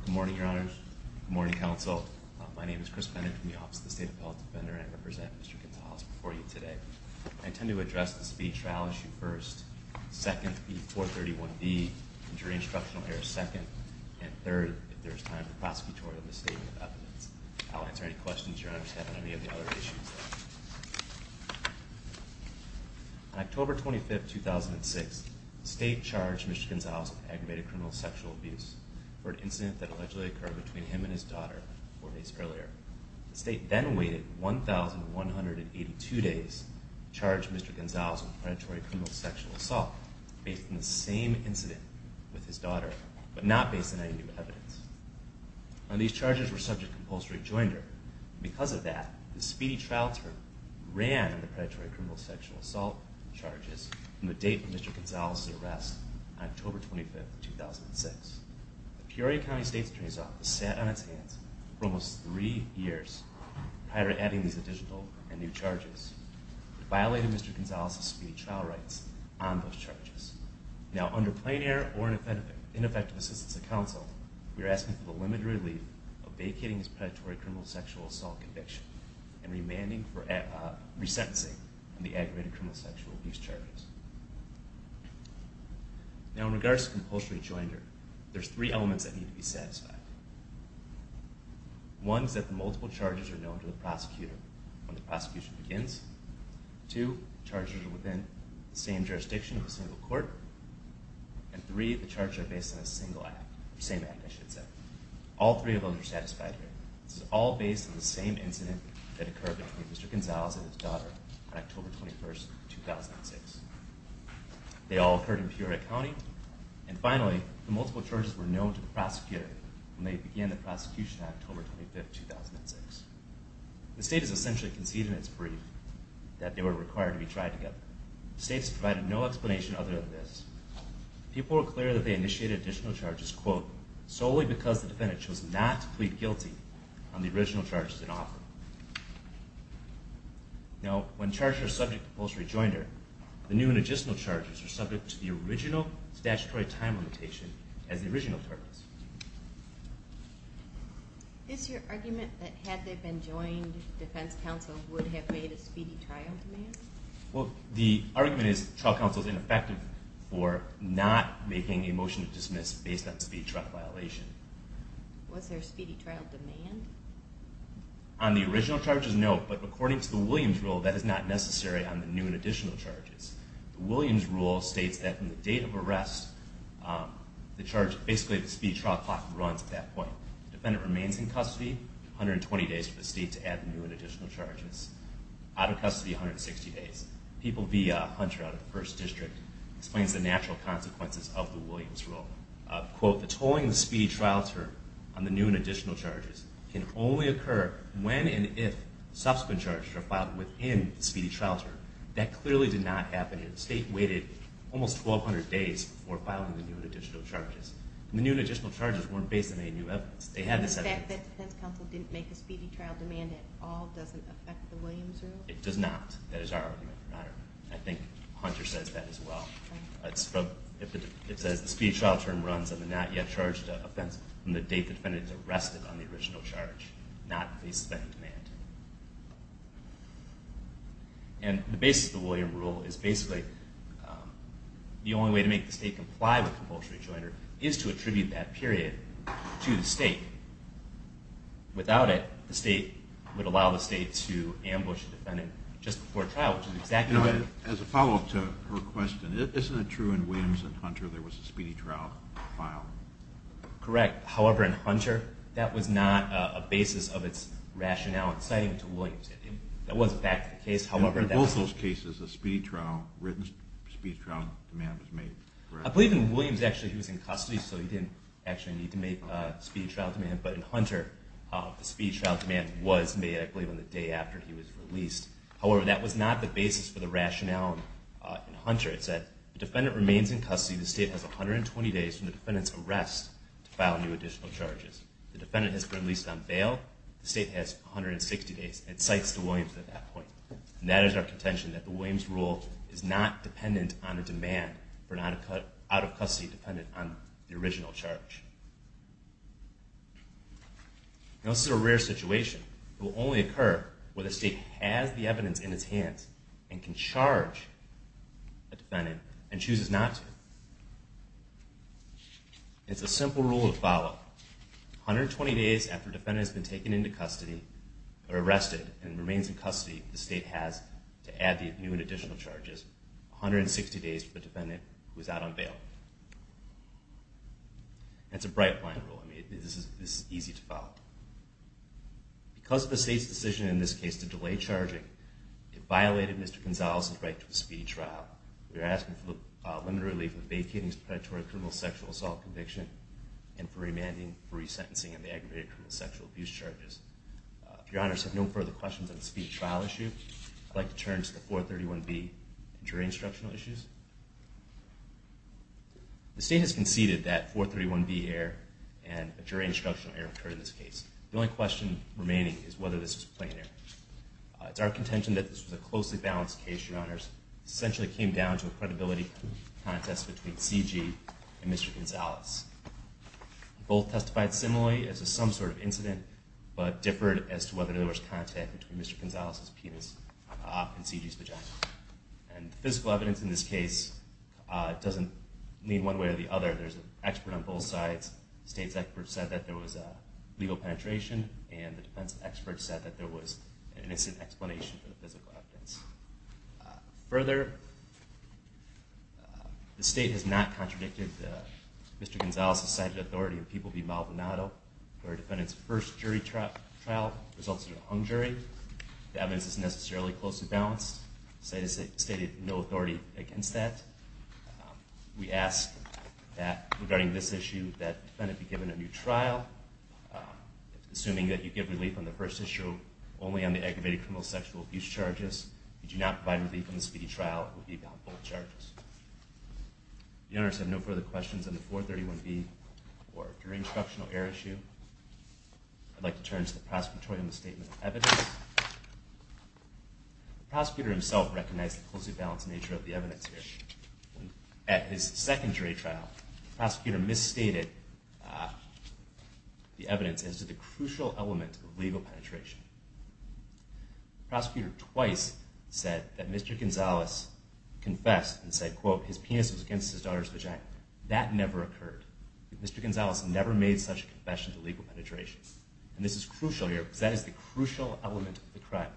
Good morning, your honors. Good morning, counsel. My name is Chris Bennett from the Office of the State Appellate Defender, and I represent Mr. Gonzales before you today. I intend to speak to trial issue first, second, P431B, jury instructional error second, and third, if there is time for prosecutorial misstatement of evidence. I'll answer any questions your honors have on any of the other issues. On October 25th, 2006, the state charged Mr. Gonzales of aggravated criminal sexual abuse for an incident that allegedly occurred between him and his daughter four days earlier. The state then waited 1,182 days to charge Mr. Gonzales of predatory criminal sexual assault based on the same incident with his daughter, but not based on any new evidence. These charges were subject to compulsory joinder, and because of that, the speedy trial term ran on the predatory criminal sexual assault charges from the date of Mr. Gonzales' arrest on October 25th, 2006. The Peoria County State's attorneys office sat on its hands for almost three years prior to adding these additional and new charges. It violated Mr. Gonzales' speedy trial rights on those charges. Now under plain error or ineffective assistance of counsel, we are asking for the limited relief of vacating his predatory criminal sexual assault conviction and remanding for resentencing on the aggravated criminal sexual abuse charges. Now in regards to compulsory joinder, there's three elements that need to be satisfied. One is that the multiple charges are known to the prosecutor when the prosecution begins. Two, the charges are within the same jurisdiction with a single court. And three, the charges are based on the same act. All three of them are satisfied here. This is all based on the same incident that occurred between Mr. Gonzales and his daughter on October 21st, 2006. They all occurred in Peoria County. And finally, the multiple charges were known to the prosecutor when they began the prosecution on October 25th, 2006. The state has essentially conceded in its brief that they were required to be tried together. The state has provided no explanation other than this. People were clear that they initiated additional charges, quote, solely because the defendant chose not to plead guilty on the original charges that offered. Now when charges are subject to compulsory joinder, the new and additional charges are subject to the original statutory time limitation as the original charges. Is your argument that had they been joined, defense counsel would have made a speedy trial demand? Well, the argument is trial counsel is ineffective for not making a motion to dismiss based on speed trial violation. Was there a speedy trial demand? On the original charges, no. But according to the Williams rule, that is not necessary on the new and additional charges. It states that from the date of arrest, basically the speedy trial clock runs at that point. The defendant remains in custody 120 days for the state to add the new and additional charges. Out of custody, 160 days. People be a hunter out of the first district. Explains the natural consequences of the Williams rule. Quote, the tolling the speedy trial term on the new and additional charges can only occur when and if subsequent charges are filed within the speedy trial term. That clearly did not happen here. The defendant was in custody almost 1,200 days before filing the new and additional charges. The new and additional charges weren't based on any new evidence. They had this evidence. The fact that defense counsel didn't make a speedy trial demand at all doesn't affect the Williams rule? It does not. That is our argument, Your Honor. I think Hunter says that as well. It says the speedy trial term runs on the not yet charged offense from the date the defendant is arrested on the original charge, not based on any demand. And the basis of the Williams rule is basically the only way to make the state comply with compulsory charter is to attribute that period to the state. Without it, the state would allow the state to ambush the defendant just before trial, which is exactly right. As a follow-up to her question, isn't it true in Williams and Hunter there was a speedy trial filed? Correct. However, in Hunter, that was not a basis of its rationale in citing to Williams. In both those cases, a speedy trial demand was made. I believe in Williams, actually, he was in custody, so he didn't actually need to make a speedy trial demand. But in Hunter, the speedy trial demand was made, I believe, on the day after he was released. However, that was not the basis for the rationale in Hunter. It said the defendant remains in custody. The state has 120 days from the defendant's arrest to file new additional charges. The defendant has been released on bail. The state has 160 days. It cites to Williams at that point. And that is our contention, that the Williams rule is not dependent on a demand for out-of-custody, dependent on the original charge. This is a rare situation. It will only occur where the state has the evidence in its hands and can charge a defendant and chooses not to. It's a simple rule of follow-up. 120 days after the defendant has been arrested and remains in custody, the state has, to add the new and additional charges, 160 days for the defendant who is out on bail. That's a bright line rule. This is easy to follow. Because of the state's decision in this case to delay charging, it violated Mr. Gonzalez's right to a speedy trial. We are asking for the limited relief of vacating his predatory criminal sexual assault conviction and for remanding for resentencing of the aggravated criminal sexual abuse charges. If Your Honors have no further questions on the speedy trial issue, I'd like to turn to the 431B jury instructional issues. The state has conceded that 431B error and a jury instructional error occurred in this case. The only question remaining is whether this was a plain error. It's our contention that this was a closely balanced case, Your Honors. It essentially came down to a credibility contest between C.G. and Mr. Gonzalez. Both testified similarly as if some sort of incident, but differed as to whether there was contact between Mr. Gonzalez's penis and C.G.'s vagina. And physical evidence in this case doesn't lean one way or the other. There's an expert on both sides. The state's expert said that there was legal penetration, and the defense expert said that there was an innocent explanation for the physical evidence. Further, the state has not contradicted Mr. Gonzalez's cited authority in People v. Maldonado where a defendant's first jury trial results in a hung jury. The evidence is necessarily closely balanced. The state has stated no authority against that. We ask that, regarding this issue, that the defendant be given a new trial, assuming that you give relief on the first issue only on the aggravated criminal sexual abuse charges. If you do not provide relief on the speedy trial, it will be on both charges. If Your Honors have no further questions on the 431B or jury instructional error issue, I'd like to turn to the prosecutor in the statement of evidence. The prosecutor himself recognized the closely balanced nature of the evidence here. At his second jury trial, the prosecutor misstated the evidence as to the crucial element of legal penetration. The prosecutor twice said that Mr. Gonzalez confessed and said, quote, his penis was against his daughter's vagina. That never occurred. Mr. Gonzalez never made such a confession to legal penetration. And this is crucial here, because that is the crucial element of the crime.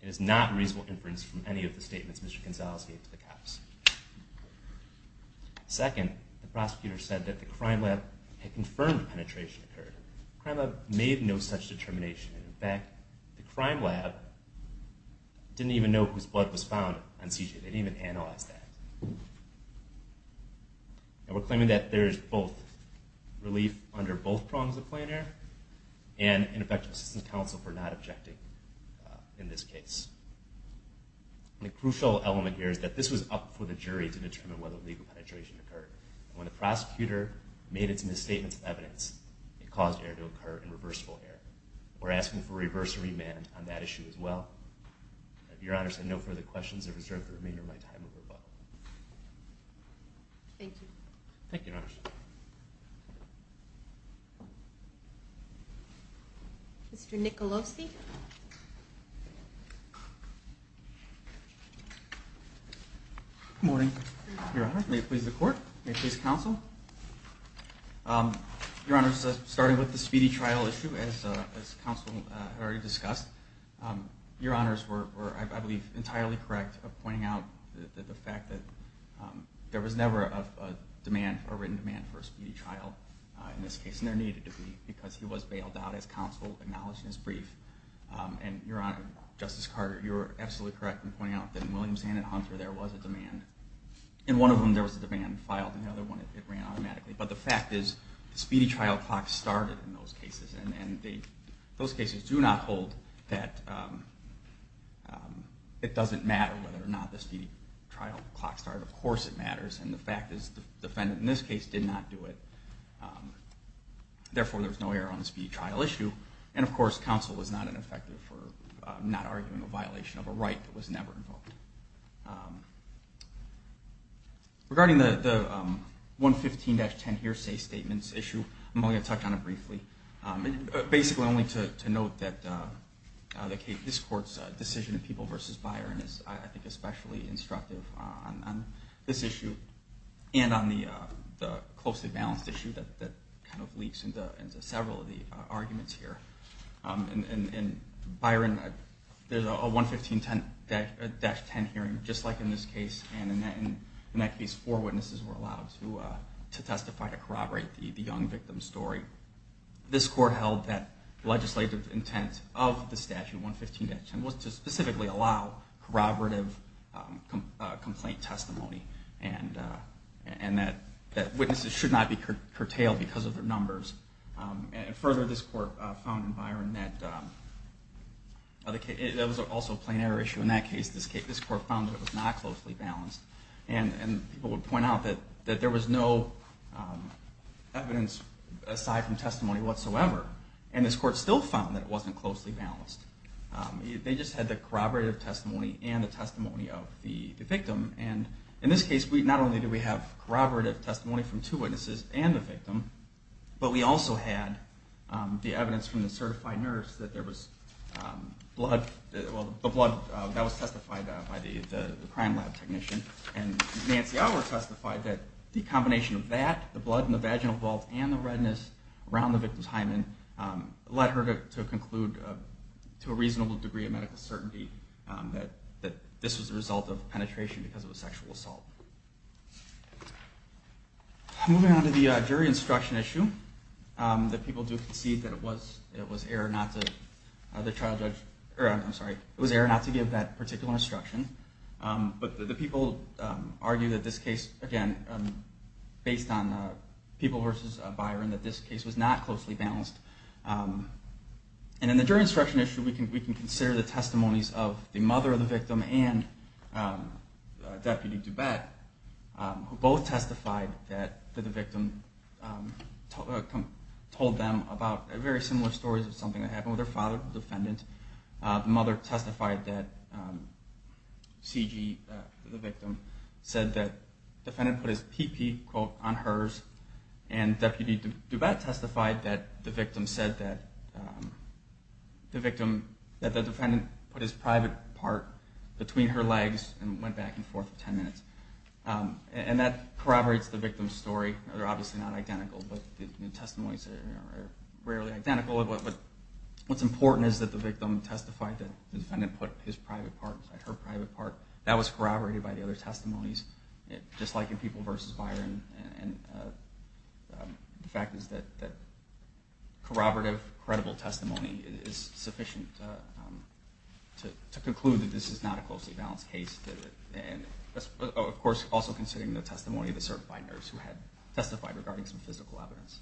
It is not reasonable inference from any of the statements Mr. Gonzalez gave to the cops. Second, the prosecutor said that the crime lab had confirmed penetration occurred. The crime lab made no such determination. In fact, the crime lab didn't even know whose blood was found on CJ. They didn't even analyze that. And we're claiming that there is both relief under both prongs of plain error and an effective assistance counsel for not objecting in this case. The crucial element here is that this was up for the jury to determine whether legal penetration occurred. When the prosecutor made its misstatements of evidence, it caused error to occur in reversible error. We're asking for reverse remand on that issue as well. Your Honors, I have no further questions. I reserve the remainder of my time for rebuttal. Thank you. Thank you, Your Honors. Mr. Nicolosi? Good morning, Your Honor. May it please the Court? May it please counsel? Your Honors, starting with the speedy trial issue, as counsel had already discussed, Your Honors were, I believe, entirely correct in pointing out the fact that there was never a written demand for a speedy trial in this case. And there needed to be, because he was brief. And Your Honor, Justice Carter, you were absolutely correct in pointing out that in Williams and Hunter, there was a demand. In one of them, there was a demand filed. In the other one, it ran automatically. But the fact is, the speedy trial clock started in those cases. And those cases do not hold that it doesn't matter whether or not the speedy trial clock started. Of course it matters. And the fact is, the defendant in this case did not do it. Therefore, there's no error on the speedy trial issue. And of course, counsel was not ineffective for not arguing a violation of a right that was never invoked. Regarding the 115-10 hearsay statements issue, I'm only going to touch on it briefly, basically only to note that this Court's decision in People v. Byron is, I think, a closely balanced issue that kind of leaks into several of the arguments here. In Byron, there's a 115-10 hearing, just like in this case. And in that case, four witnesses were allowed to testify to corroborate the young victim's story. This Court held that legislative intent of the statute, 115-10, was to specifically allow corroborative complaint testimony, and that witnesses should not be curtailed because of their numbers. And further, this Court found in Byron that it was also a plain error issue. In that case, this Court found that it was not closely balanced. And people would point out that there was no evidence aside from testimony whatsoever. And this Court still found that it wasn't closely balanced. They just had the corroborative testimony and the testimony of the victim. And in this case, not only did we have corroborative testimony from two witnesses and the victim, but we also had the evidence from the certified nurse that there was blood, that was testified by the crime lab technician. And Nancy Allward testified that the combination of that, the blood in the vaginal vault and the redness around the victim's hymen led her to conclude, to a reasonable degree of medical certainty, that this was a result of penetration because of a sexual assault. Moving on to the jury instruction issue, that people do concede that it was error not to give that particular instruction. But the people argue that this case, again, based on people versus Byron, that this case was not closely balanced. And in the jury instruction issue, we can consider the testimonies of the mother of the victim and Deputy DuBette, who both testified that the victim told them about very similar stories of something that happened with her father, the defendant. The mother testified that C.G., the victim, said that the defendant put his pee-pee, quote, on hers. And Deputy DuBette testified that the victim said that the defendant put his private part between her legs and went back and forth 10 minutes. And that corroborates the victim's story. They're obviously not identical, but the testimonies are rarely identical. What's important is that the victim testified that the defendant put her private part. That was corroborated by the other testimonies, just like in people versus Byron. And the fact is that corroborative, credible testimony is sufficient to conclude that this is not a closely balanced case. And, of course, also considering the testimony of the certified nurse who had testified regarding some physical evidence.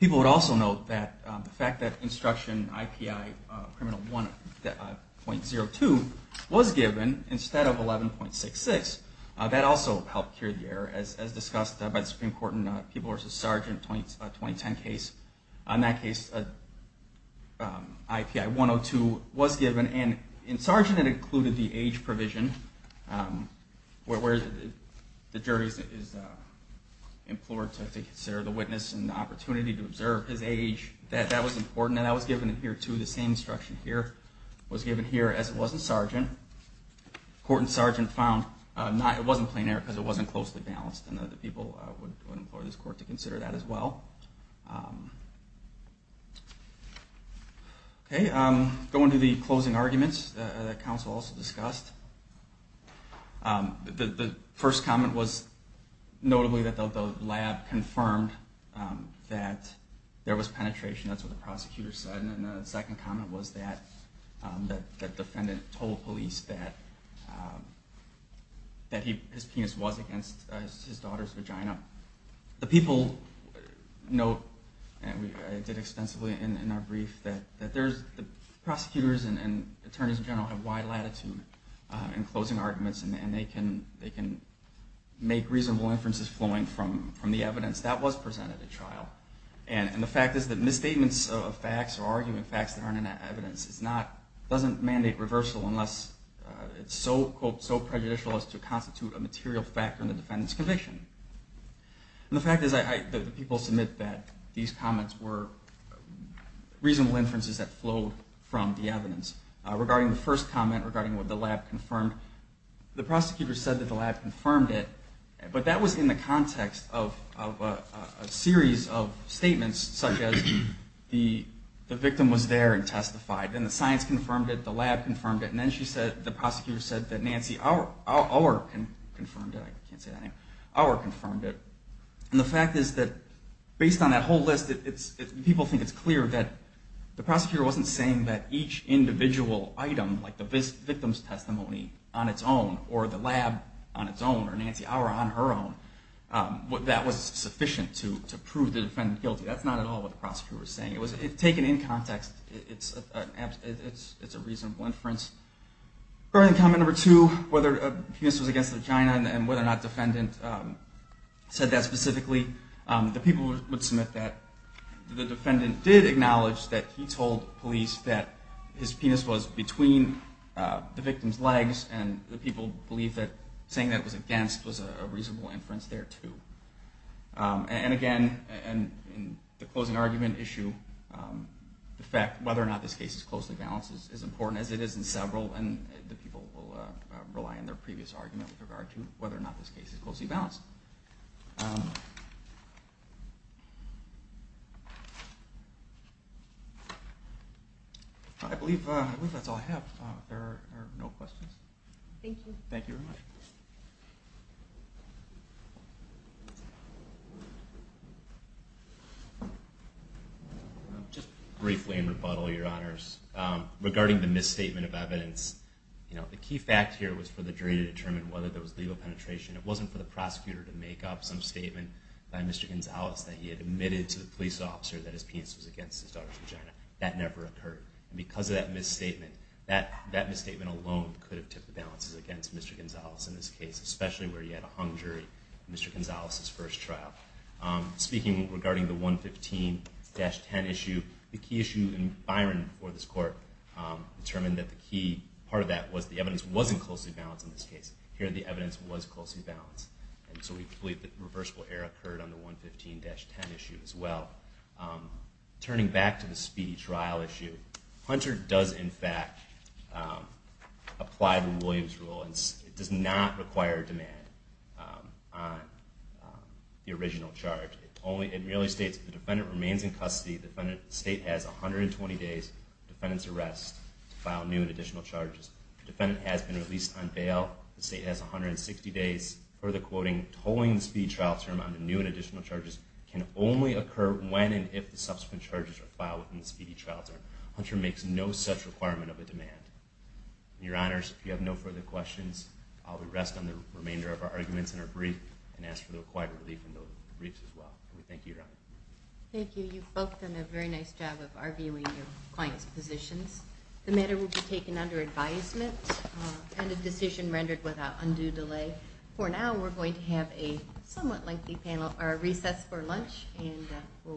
People would also note that the fact that instruction IPI criminal 1.02 was given instead of 11.66, that also helped cure the error, as discussed by the Supreme Court in the people versus sergeant 2010 case. In that case, IPI 102 was given. And in sergeant, it included the age provision, where the jury is implored to consider the witness and the opportunity to observe his age. That was important. And that was given here, too. The same instruction here was given here as it was in sergeant. Court and sergeant found it wasn't plenary because it wasn't closely balanced. And the people would implore this court to consider that as well. Going to the closing arguments that counsel also discussed. The first comment was notably that the lab confirmed that there was penetration. That's what the prosecutor said. And the second comment was that the defendant told police that his penis was against his daughter's vagina. The people note, and we did extensively in our brief, that prosecutors and attorneys in general have wide latitude in closing arguments, and they can make reasonable inferences flowing from the evidence that was presented at trial. And the fact is that misstatements of facts or arguing facts that aren't in that evidence doesn't mandate reversal unless it's so, quote, so prejudicial as to constitute a material factor in the defendant's conviction. And the fact is that the people submit that these comments were reasonable inferences that flowed from the evidence. Regarding the first comment, regarding what the lab confirmed, the prosecutor said that the lab confirmed it, but that was in the context of a series of statements such as the victim was there and testified, and the science confirmed it, the lab confirmed it, and then the prosecutor said that Nancy Auer confirmed it. And the fact is that based on that whole list, people think it's clear that the prosecutor wasn't saying that each individual item, like the victim's testimony on its own, or the lab on its own, or Nancy Auer on her own, that was sufficient to prove the defendant guilty. That's not at all what the prosecutor was saying. It was taken in context. It's a reasonable inference. Regarding comment number two, whether the penis was against the vagina and whether or not the defendant said that specifically, the people would submit that the defendant did acknowledge that he told police that his penis was between the victim's legs and the people believe that saying that it was against was a reasonable inference there, too. And again, in the closing argument issue, the fact whether or not this case is closely balanced is important, as it is in several, and the people will rely on their previous argument with regard to whether or not this case is closely balanced. I believe that's all I have. If there are no questions. Thank you. Thank you very much. Just briefly in rebuttal, Your Honors. Regarding the misstatement of evidence, the key fact here was for the jury to determine whether there was legal penetration. It wasn't for the prosecutor to make up some statement by Mr. Gonzales that he had admitted to the police officer that his penis was against his daughter's vagina. That never occurred. And because of that misstatement, that misstatement alone could have tipped the balances against Mr. Gonzales in this case, especially where he had a hung jury in Mr. Gonzales' first trial. Speaking regarding the 115-10 issue, the key issue in Byron for this court determined that the key part of that was the evidence wasn't closely balanced in this case. Here the evidence was closely balanced. And so we believe that reversible error occurred on the 115-10 issue as well. Turning back to the speedy trial issue, Hunter does in fact apply the Williams rule and it does not require a demand on the original charge. It merely states the defendant remains in custody. The state has 120 days of defendant's arrest to file new and additional charges. The defendant has been released on bail. The state has 160 days. Further quoting, tolling the speedy trial term on the new and additional charges can only occur when and if the subsequent charges are filed within the speedy trial term. Hunter makes no such requirement of a demand. Your Honors, if you have no further questions, I will rest on the remainder of our arguments in our brief and ask for the required relief in those briefs as well. We thank you, Your Honor. Thank you. You've both done a very nice job of arguing your clients' positions. The matter will be taken under advisement and a decision rendered without undue delay. For now, we're going to have a somewhat lengthy recess for lunch and we'll resume at 1 o'clock.